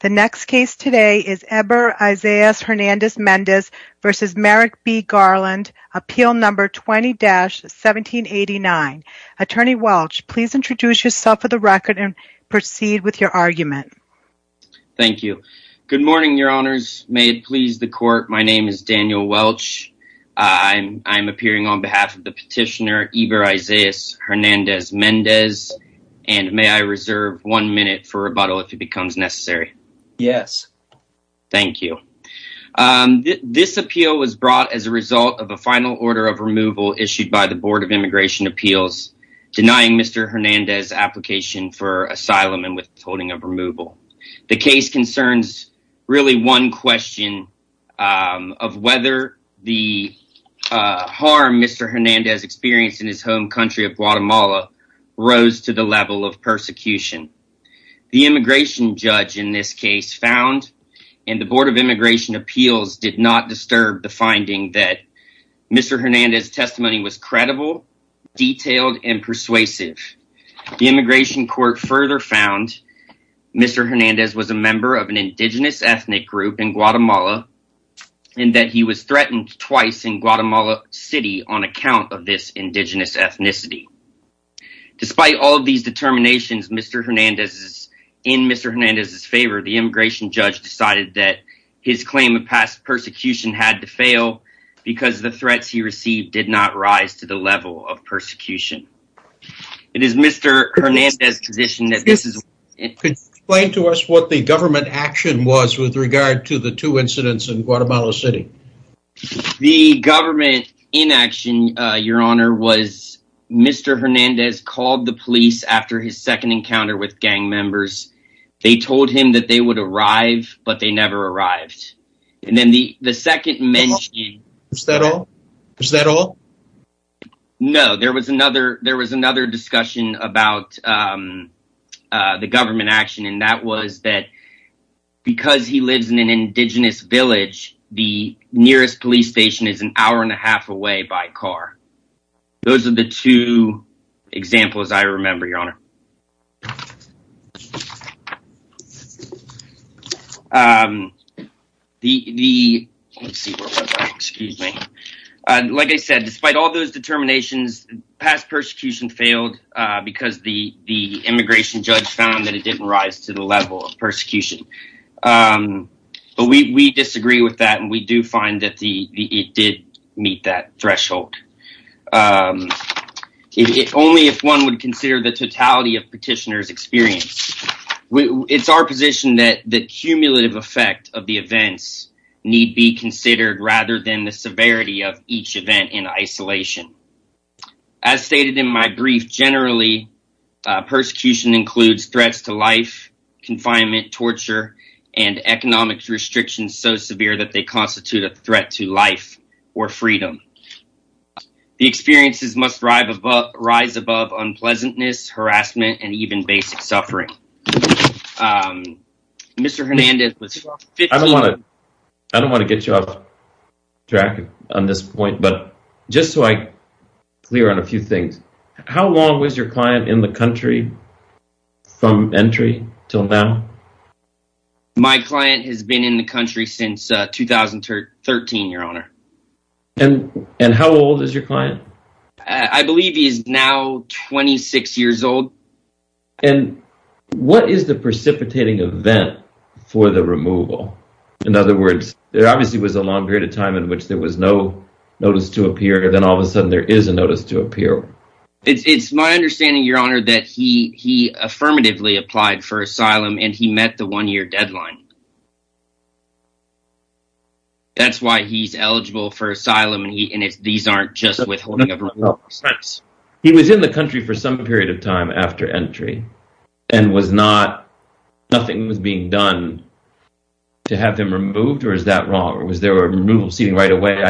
The next case today is Eber Isaias Hernandez-Mendez v. Merrick B. Garland, Appeal No. 20-1789. Attorney Welch, please introduce yourself for the record and proceed with your argument. Thank you. Good morning, Your Honors. May it please the Court, my name is Daniel Welch. I'm appearing on behalf of the petitioner Eber Isaias Hernandez-Mendez, and may I reserve one minute for rebuttal if it becomes necessary? Yes. Thank you. This appeal was brought as a result of a final order of removal issued by the Board of Immigration Appeals denying Mr. Hernandez' application for asylum and withholding of removal. The case concerns really one question of whether the harm Mr. Hernandez experienced in his The immigration judge in this case found, and the Board of Immigration Appeals did not disturb the finding that Mr. Hernandez' testimony was credible, detailed, and persuasive. The immigration court further found Mr. Hernandez was a member of an indigenous ethnic group in Guatemala, and that he was threatened twice in Guatemala City on account of this indigenous ethnicity. Despite all of these determinations in Mr. Hernandez' favor, the immigration judge decided that his claim of past persecution had to fail because the threats he received did not rise to the level of persecution. It is Mr. Hernandez' position that this is Could you explain to us what the government action was with regard to the two incidents in Guatemala City? The government inaction, your honor, was Mr. Hernandez called the police after his second encounter with gang members. They told him that they would arrive, but they never arrived. And then the second mention Was that all? No, there was another discussion about the government action, and that was that because he lives in an indigenous village, the nearest police station is an hour and a half away by car. Those are the two examples I remember, your honor. Like I said, despite all those determinations, past persecution failed because the immigration judge found that it didn't rise to the level of persecution. We disagree with that, and we do find that it did meet that threshold. Only if one would consider the totality of petitioner's experience. It's our position that the cumulative effect of the events need be considered rather than the severity of each event in isolation. As stated in my brief, generally, persecution includes threats to life, confinement, torture, and economic restrictions so severe that they constitute a threat to life or freedom. The experiences must rise above unpleasantness, harassment, and even basic suffering. Mr. Hernandez, I don't want to get you off track on this point. Just so I clear on a few things, how long was your client in the country from entry until now? My client has been in the country since 2013, your honor. How old is your client? I believe he is now 26 years old. What is the precipitating event for the removal? In other words, there obviously was a long period of time in which there was no notice to appear, and then all of a sudden there is a notice to appear. It's my understanding, your honor, that he affirmatively applied for asylum, and he met the one-year deadline. That's why he's eligible for asylum, and these aren't just withholding of remorse. He was in the country for some period of time after entry, and nothing was being done to have him removed? Or is that wrong? Was there a removal proceeding right away?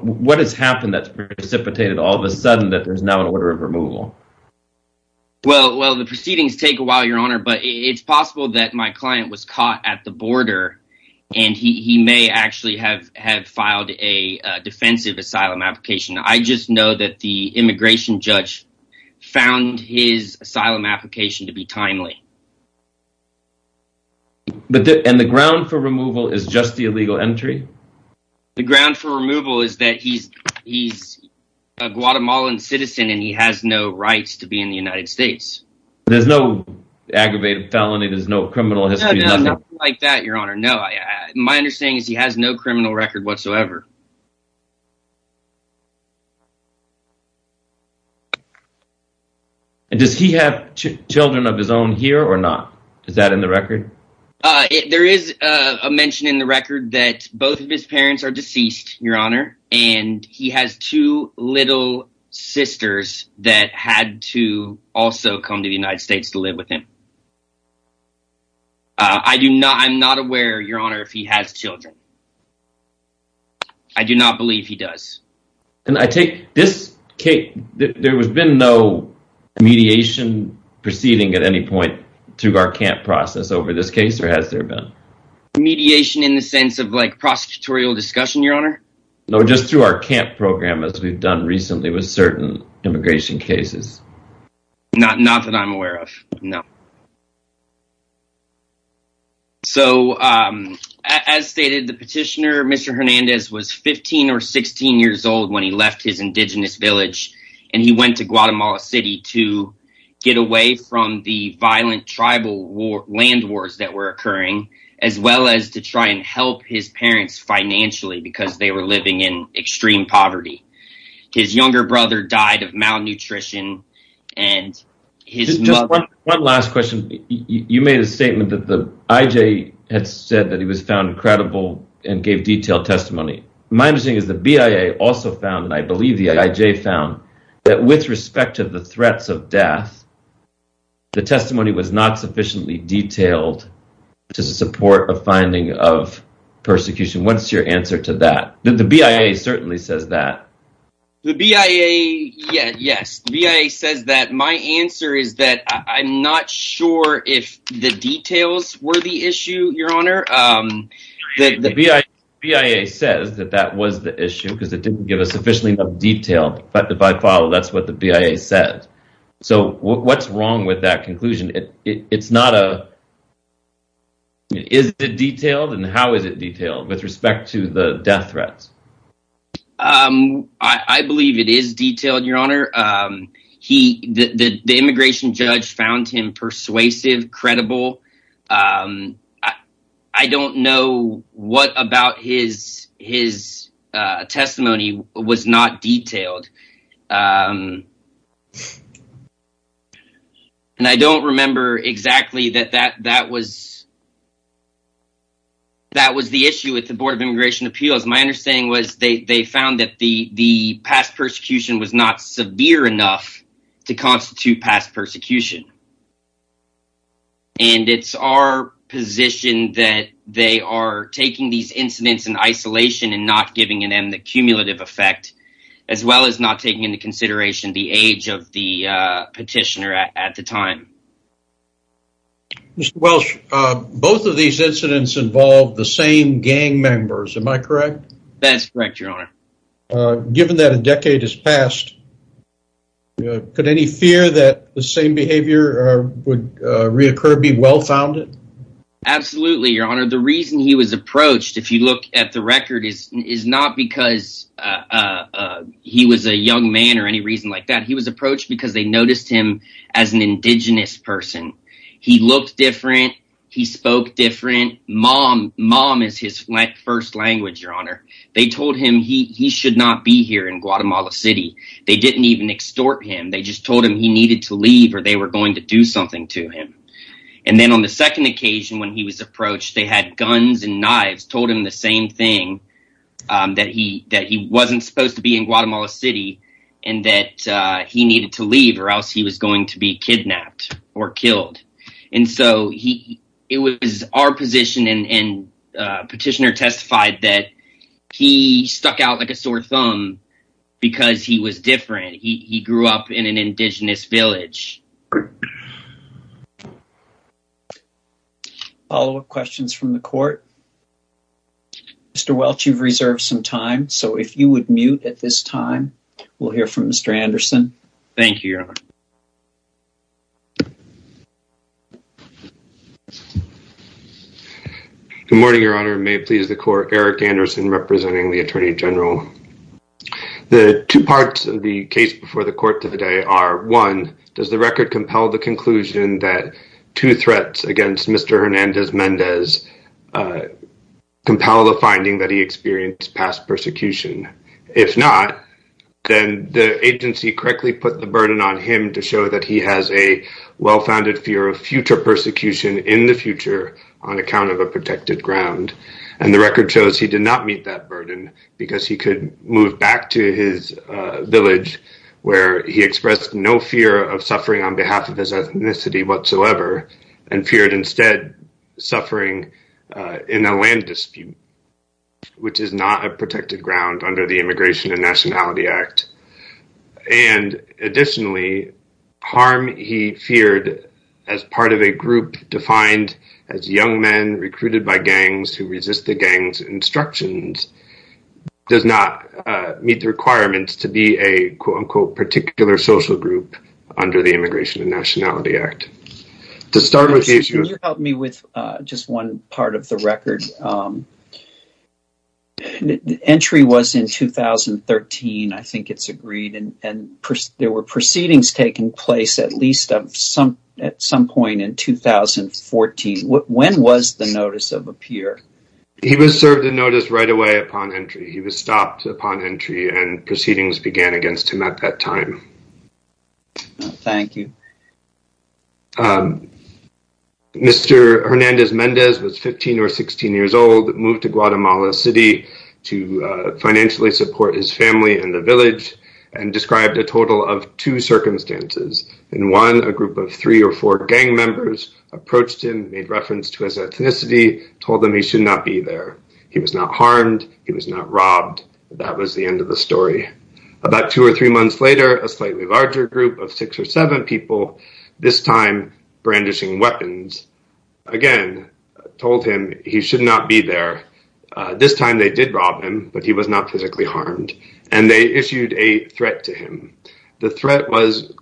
What has happened that precipitated all of a sudden that there's now an order of removal? The proceedings take a while, your honor, but it's possible that my client was caught at the border, and he may actually have filed a defensive asylum application. I just know that the immigration judge found his asylum application to be timely. And the ground for removal is just the illegal entry? The ground for removal is that he's a Guatemalan citizen, and he has no rights to be in the United States. There's no aggravated felony, there's no criminal history? No, nothing like that, your honor, no. My understanding is that he has no criminal record whatsoever. Does he have children of his own here or not? Is that in the record? There is a mention in the record that both of his parents are deceased, your honor, and he has two little sisters that had to also come to the United States to live with him. I do not, I'm not aware, your honor, if he has children. I do not believe he does. And I take this case, there has been no mediation proceeding at any point to our camp process over this case, or has there been? Mediation in the sense of like prosecutorial discussion, your honor? No, just through our camp program, as we've done recently with certain immigration cases. Not that I'm aware of, no. So, as stated, the petitioner, Mr. Hernandez, was 15 or 16 years old when he left his indigenous village, and he went to Guatemala City to get away from the violent tribal land wars that were occurring, as well as to try and help his parents financially because they were living in extreme poverty. His younger brother died of malnutrition, and his mother... Just one last question. You made a statement that the IJ had said that he was found credible and gave detailed testimony. My understanding is the BIA also found, and I believe the IJ found, that with respect to the threats of death, the testimony was not sufficiently detailed to support a finding of persecution. What's your answer to that? The BIA certainly says that. The BIA, yes, the BIA says that. My answer is that I'm not sure if the details were the issue, your honor. The BIA says that that was the issue because it didn't give us sufficiently enough detail, but by default, that's what the BIA said. So, what's wrong with that conclusion? Is it detailed, and how is it detailed with respect to the death threats? I believe it is detailed, your honor. The immigration judge found him persuasive, credible. I don't know what about his testimony was not detailed. And I don't remember exactly that that was the issue with the Board of Immigration Appeals. My understanding was they found that the past persecution was not severe enough to constitute past persecution. And it's our position that they are taking these incidents in isolation and not giving them the cumulative effect, as well as not taking into consideration the age of the petitioner at the time. Mr. Welsh, both of these incidents involved the same gang members, am I correct? That's correct, your honor. Given that a decade has passed, could any fear that the same behavior would reoccur be well-founded? Absolutely, your honor. The reason he was approached, if you look at the record, is not because he was a young man or any reason like that. He was approached because they noticed him as an indigenous person. He looked different. He spoke different. Mom is his first language, your honor. They told him he should not be here in Guatemala City. They didn't even extort him. They just told him he needed to leave or they were going to do something to him. And then on the second occasion, when he was approached, they had guns and knives, told him the same thing, that he wasn't supposed to be in Guatemala City and that he needed to leave or else he was going to be kidnapped or killed. And so it was our position and petitioner testified that he stuck out like a sore thumb because he was different. He grew up in an indigenous village. A follow-up question from the court. Mr. Welch, you've reserved some time, so if you would mute at this time, we'll hear from Mr. Anderson. Thank you, your honor. Good morning, your honor. May it please the court, Eric Anderson, representing the Attorney General. The two parts of the case before the court today are, one, does the record compel the two threats against Mr. Hernandez-Mendez compel the finding that he experienced past persecution? If not, then the agency correctly put the burden on him to show that he has a well-founded fear of future persecution in the future on account of a protected ground. And the record shows he did not meet that burden because he could move back to his ethnicity whatsoever and feared instead suffering in a land dispute, which is not a protected ground under the Immigration and Nationality Act. And additionally, harm he feared as part of a group defined as young men recruited by gangs who resist the gangs' instructions does not meet the requirements to be a quote-unquote social group under the Immigration and Nationality Act. To start with... Can you help me with just one part of the record? Entry was in 2013, I think it's agreed, and there were proceedings taking place at least at some point in 2014. When was the notice of appear? He was served a notice right away upon entry. He was stopped upon entry and proceedings began against him at that time. No, thank you. Mr. Hernandez-Mendez was 15 or 16 years old, moved to Guatemala City to financially support his family and the village and described a total of two circumstances. In one, a group of three or four gang members approached him, made reference to his ethnicity, told them he should not be there. He was not harmed. He was not robbed. That was the end of the story. About two or three months later, a slightly larger group of six or seven people, this time brandishing weapons, again, told him he should not be there. This time they did rob him, but he was not physically harmed. And they issued a threat to him. The threat was,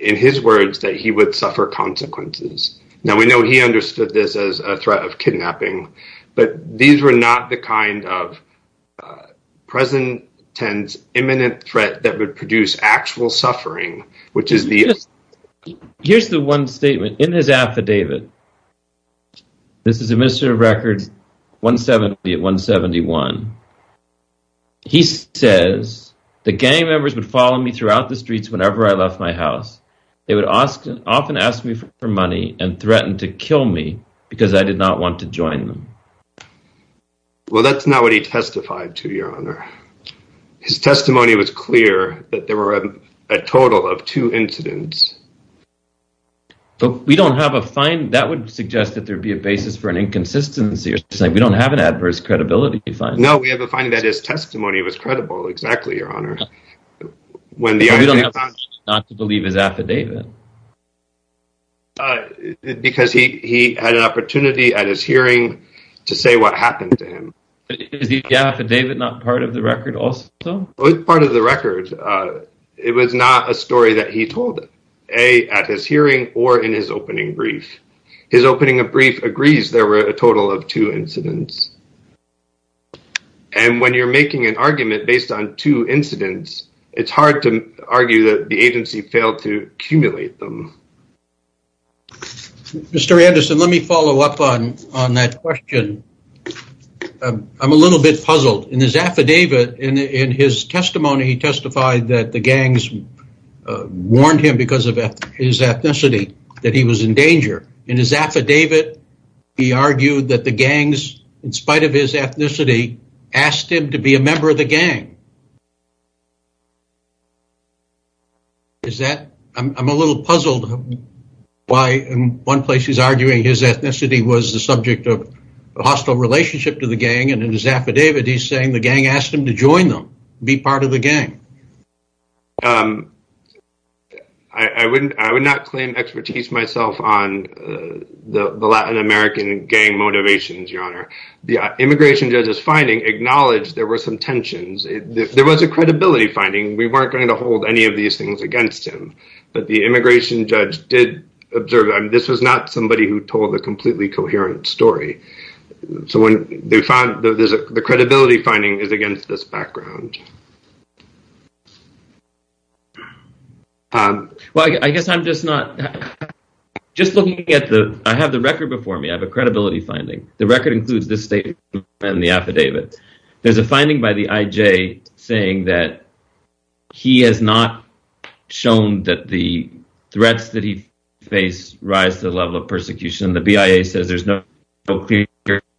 in his words, that he would suffer consequences. Now, we know he understood this as a threat of kidnapping. But these were not the kind of present tense imminent threat that would produce actual suffering, which is the... Here's the one statement in his affidavit. This is administrative records 170 of 171. He says, the gang members would follow me throughout the streets whenever I left my house. They would often ask me for money and threatened to kill me because I did not want to join them. Well, that's not what he testified to, Your Honor. His testimony was clear that there were a total of two incidents. But we don't have a fine. That would suggest that there would be a basis for an inconsistency. You're saying we don't have an adverse credibility finding. No, we have a finding that his testimony was credible. Exactly, Your Honor. We don't have to believe his affidavit. Because he had an opportunity at his hearing to say what happened to him. But is the affidavit not part of the record also? It's part of the record. It was not a story that he told, A, at his hearing or in his opening brief. His opening of brief agrees there were a total of two incidents. And when you're making an argument based on two incidents, it's hard to argue that the agency failed to cumulate. Mr. Anderson, let me follow up on that question. I'm a little bit puzzled. In his affidavit, in his testimony, he testified that the gangs warned him because of his ethnicity, that he was in danger. In his affidavit, he argued that the gangs, in spite of his ethnicity, asked him to be a member of the gang. Is that, I'm a little puzzled why in one place he's arguing his ethnicity was the subject of a hostile relationship to the gang. And in his affidavit, he's saying the gang asked him to join them, be part of the gang. I would not claim expertise myself on the Latin American gang motivations, Your Honor. The immigration judge's finding acknowledged there were some tensions. If there was a credibility finding, we weren't going to hold any of these things against him. But the immigration judge did observe that this was not somebody who told a completely coherent story. So the credibility finding is against this background. Well, I guess I'm just not, just looking at the, I have the record before me. I have a credibility finding. The record includes this statement and the affidavit. There's a finding by the IJ saying that he has not shown that the threats that he faced rise to the level of persecution. The BIA says there's no clear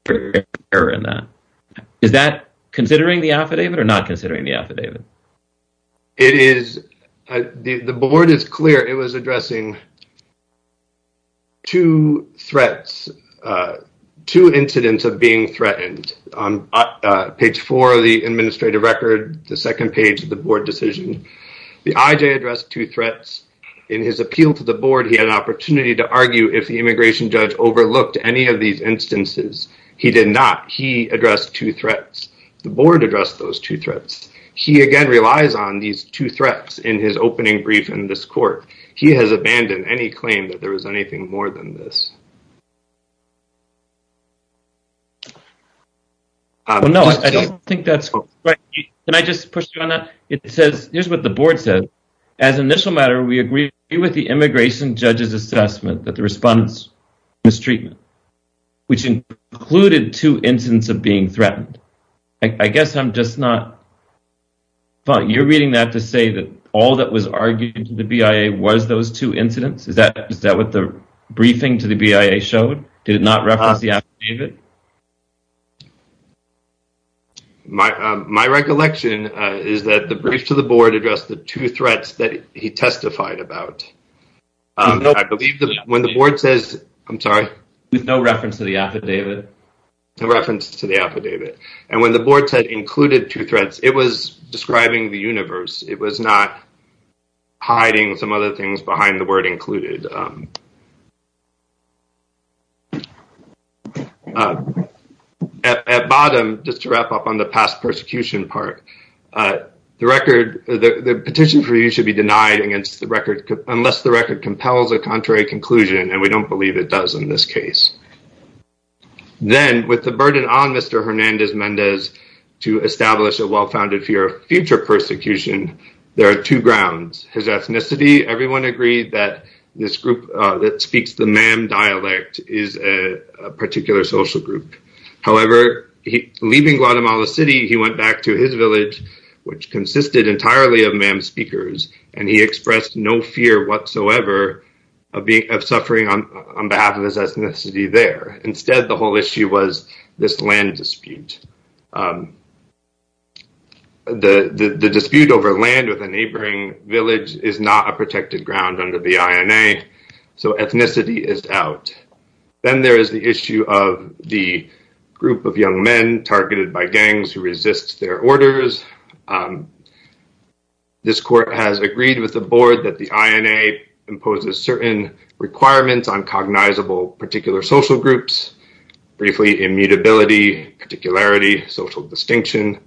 error in that. Is that considering the affidavit or not considering the affidavit? It is. The board is clear it was addressing two threats, two incidents of being threatened. Page four of the administrative record, the second page of the board decision. The IJ addressed two threats in his appeal to the board. He had an opportunity to argue if the immigration judge overlooked any of these instances. He did not. He addressed two threats. The board addressed those two threats. He again relies on these two threats in his opening brief in this court. He has abandoned any claim that there was anything more than this. Well, no, I don't think that's correct. Can I just push you on that? It says, here's what the board says. As an initial matter, we agree with the immigration judge's assessment that the response was treatment, which included two incidents of being threatened. I guess I'm just not fine. You're reading that to say that all that was argued to the BIA was those two incidents. Is that what the briefing to the BIA showed? Did it not reference the affidavit? My recollection is that the brief to the board addressed the two threats that he testified about. I believe that when the board says, I'm sorry. With no reference to the affidavit. No reference to the affidavit. And when the board said included two threats, it was describing the universe. It was not hiding some other things behind the word included. At bottom, just to wrap up on the past persecution part. The petition for you should be denied unless the record compels a contrary conclusion. And we don't believe it does in this case. Then, with the burden on Mr. Hernandez-Mendez to establish a well-founded fear of future persecution, there are two grounds. His ethnicity, everyone agreed that this group that speaks the MAM dialect is a particular social group. However, leaving Guatemala City, he went back to his village, which consisted entirely of MAM speakers. And he expressed no fear whatsoever of suffering on behalf of his ethnicity there. Instead, the whole issue was this land dispute. And the dispute over land with a neighboring village is not a protected ground under the INA. So, ethnicity is out. Then, there is the issue of the group of young men targeted by gangs who resist their orders. This court has agreed with the board that the INA imposes certain requirements on cognizable particular social groups. Briefly, immutability, particularity, social distinction.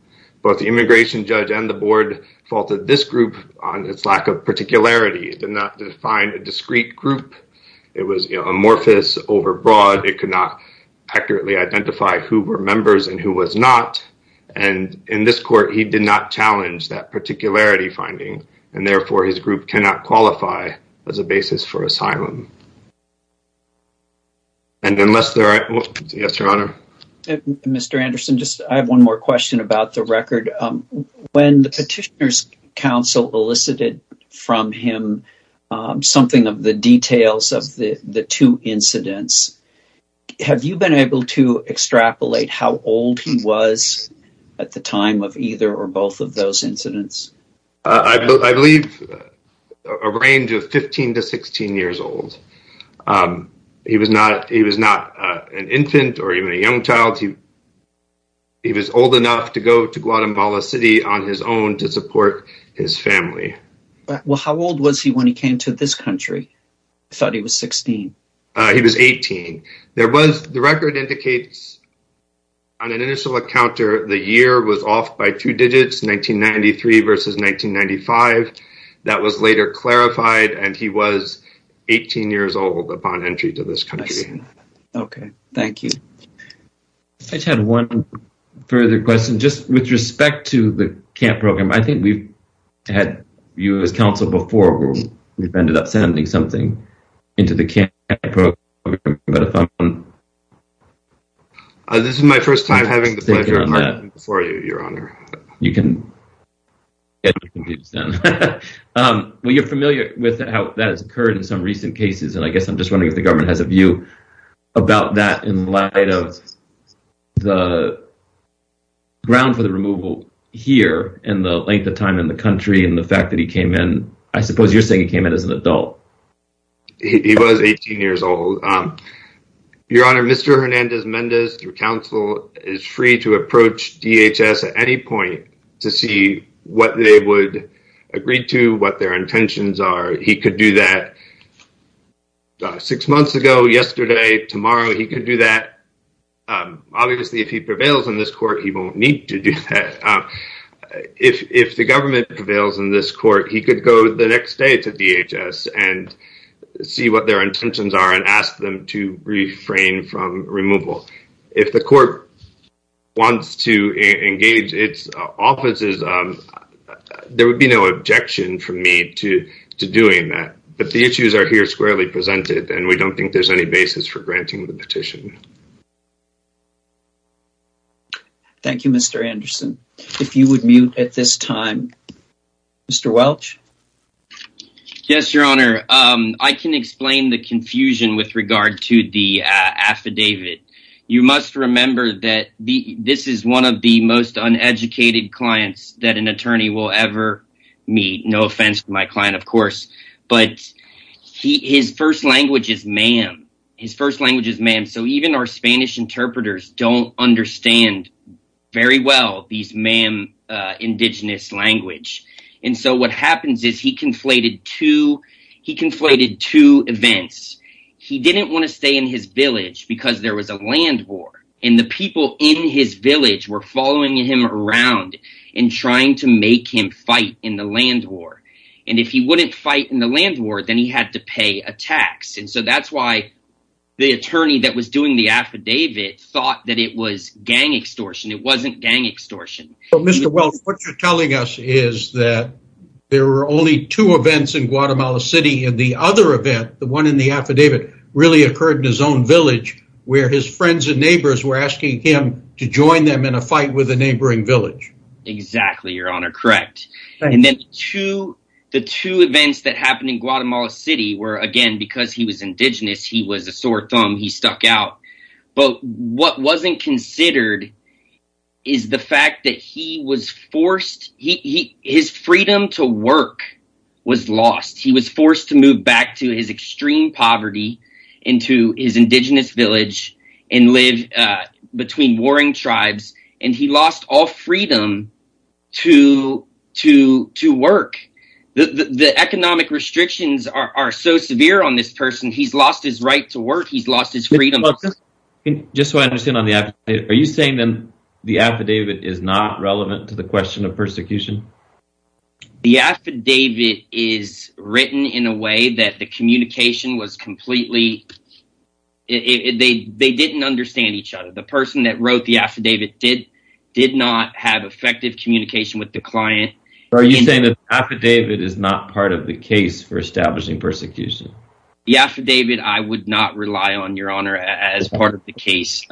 Both the immigration judge and the board faulted this group on its lack of particularity. It did not define a discrete group. It was amorphous, overbroad. It could not accurately identify who were members and who was not. And in this court, he did not challenge that particularity finding. And therefore, his group cannot qualify as a basis for asylum. And unless there are... Yes, your honor. Mr. Anderson, I have one more question about the record. When the petitioner's counsel elicited from him something of the details of the two incidents, have you been able to extrapolate how old he was at the time of either or both of those incidents? I believe a range of 15 to 16 years old. He was not an infant or even a young child. He was old enough to go to Guatemala City on his own to support his family. Well, how old was he when he came to this country? I thought he was 16. He was 18. There was... The record indicates on an initial encounter, the year was off by two digits, 1993 versus 1995. That was later clarified. And he was 18 years old upon entry to this country. Okay. Thank you. I just had one further question. Just with respect to the CAMP program, I think we've had you as counsel before. We've ended up sending something into the CAMP program, but if I'm... This is my first time having the pleasure of talking before you, your honor. You can... Well, you're familiar with how that has occurred in some recent cases. And I guess I'm just wondering if the government has a view about that in light of the ground for the removal here and the length of time in the country and the fact that he came in. I suppose you're saying he came in as an adult. He was 18 years old. Your honor, Mr. Hernandez-Mendez, through counsel, is free to approach DHS at any point to see what they would agree to, what their intentions are. He could do that six months ago, yesterday, tomorrow, he could do that. Obviously, if he prevails in this court, he won't need to do that. If the government prevails in this court, he could go the next day to DHS and see what their intentions are and ask them to refrain from removal. If the court wants to engage its offices, there would be no objection from me to doing that. But the issues are here squarely presented, and we don't think there's any basis for granting the petition. Thank you, Mr. Anderson. If you would mute at this time. Mr. Welch? Yes, your honor. I can explain the confusion with regard to the affidavit. You must remember that this is one of the most uneducated clients that an attorney will ever meet. No offense to my client, of course, but his first language is MAM. Even our Spanish interpreters don't understand very well these MAM indigenous language. What happens is he conflated two events. He didn't want to stay in his village because there was a land war, and the people in his village were following him around and trying to make him fight in the land war. If he wouldn't fight in the land war, then he had to pay a tax. That's why the attorney that was doing the affidavit thought that it was gang extortion. It wasn't gang extortion. Mr. Welch, what you're telling us is that there were only two events in Guatemala City, and the other event, the one in the affidavit, really occurred in his own village, where his friends and neighbors were asking him to join them in a fight with a neighboring village. Exactly, your honor. Correct. And then the two events that happened in Guatemala City were, again, because he was indigenous, he was a sore thumb, he stuck out. But what wasn't considered is the fact that his freedom to work was lost. He was forced to move back to his extreme poverty into his indigenous village and live between warring tribes, and he lost all freedom to work. The economic restrictions are so severe on this person. He's lost his right to work. He's lost his freedom. Just so I understand on the affidavit, are you saying then the affidavit is not relevant to the question of persecution? The affidavit is written in a way that the communication was completely... They didn't understand each other. The person that wrote the affidavit did not have effective communication with the client. Are you saying that the affidavit is not part of the case for establishing persecution? The affidavit, I would not rely on, your honor, as part of the case,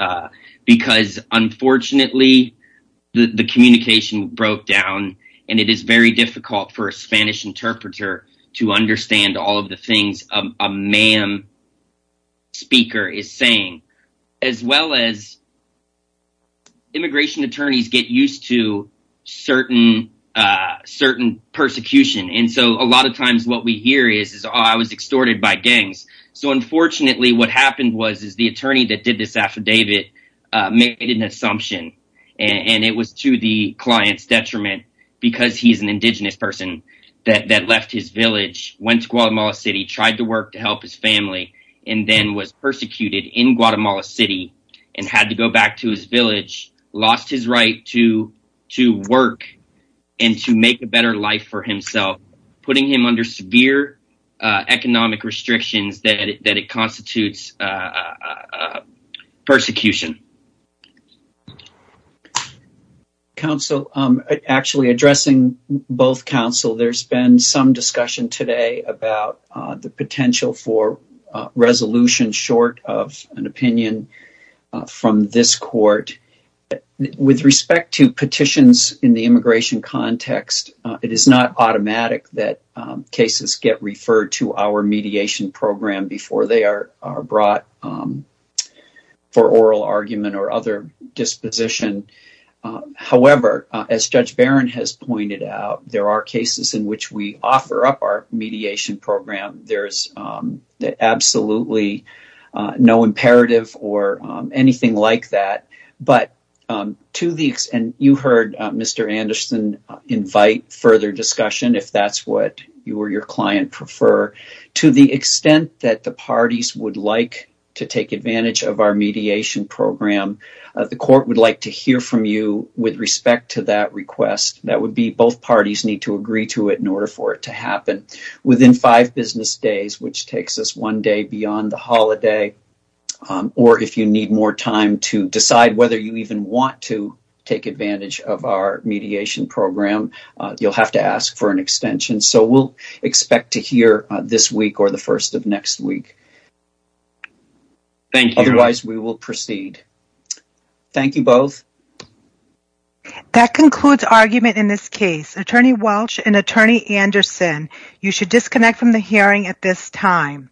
because unfortunately, the communication broke down, and it is very difficult for a Spanish interpreter to understand all of the things a ma'am speaker is saying, as well as immigration attorneys get used to certain persecution. A lot of times what we hear is, I was extorted by gangs. Unfortunately, what happened was the attorney that did this affidavit made an assumption, and it was to the client's detriment because he's an indigenous person that left his village, went to Guatemala City, tried to work to help his family, and then was persecuted in Guatemala City and had to go back to his village, lost his right to work and to make a better life for himself, putting him under severe economic restrictions that it constitutes persecution. Actually, addressing both counsel, there's been some discussion today about the potential for With respect to petitions in the immigration context, it is not automatic that cases get referred to our mediation program before they are brought for oral argument or other disposition. However, as Judge Barron has pointed out, there are cases in which we offer up our mediation program. There is absolutely no imperative or anything like that. You heard Mr. Anderson invite further discussion if that's what you or your client prefer. To the extent that the parties would like to take advantage of our mediation program, the court would like to hear from you with respect to that request. That would be both parties need to agree to it in order for it to which takes us one day beyond the holiday. Or if you need more time to decide whether you even want to take advantage of our mediation program, you'll have to ask for an extension. So we'll expect to hear this week or the first of next week. Otherwise, we will proceed. Thank you both. That concludes argument in this case. Attorney Welch and Attorney Anderson, you should disconnect from the hearing at this time.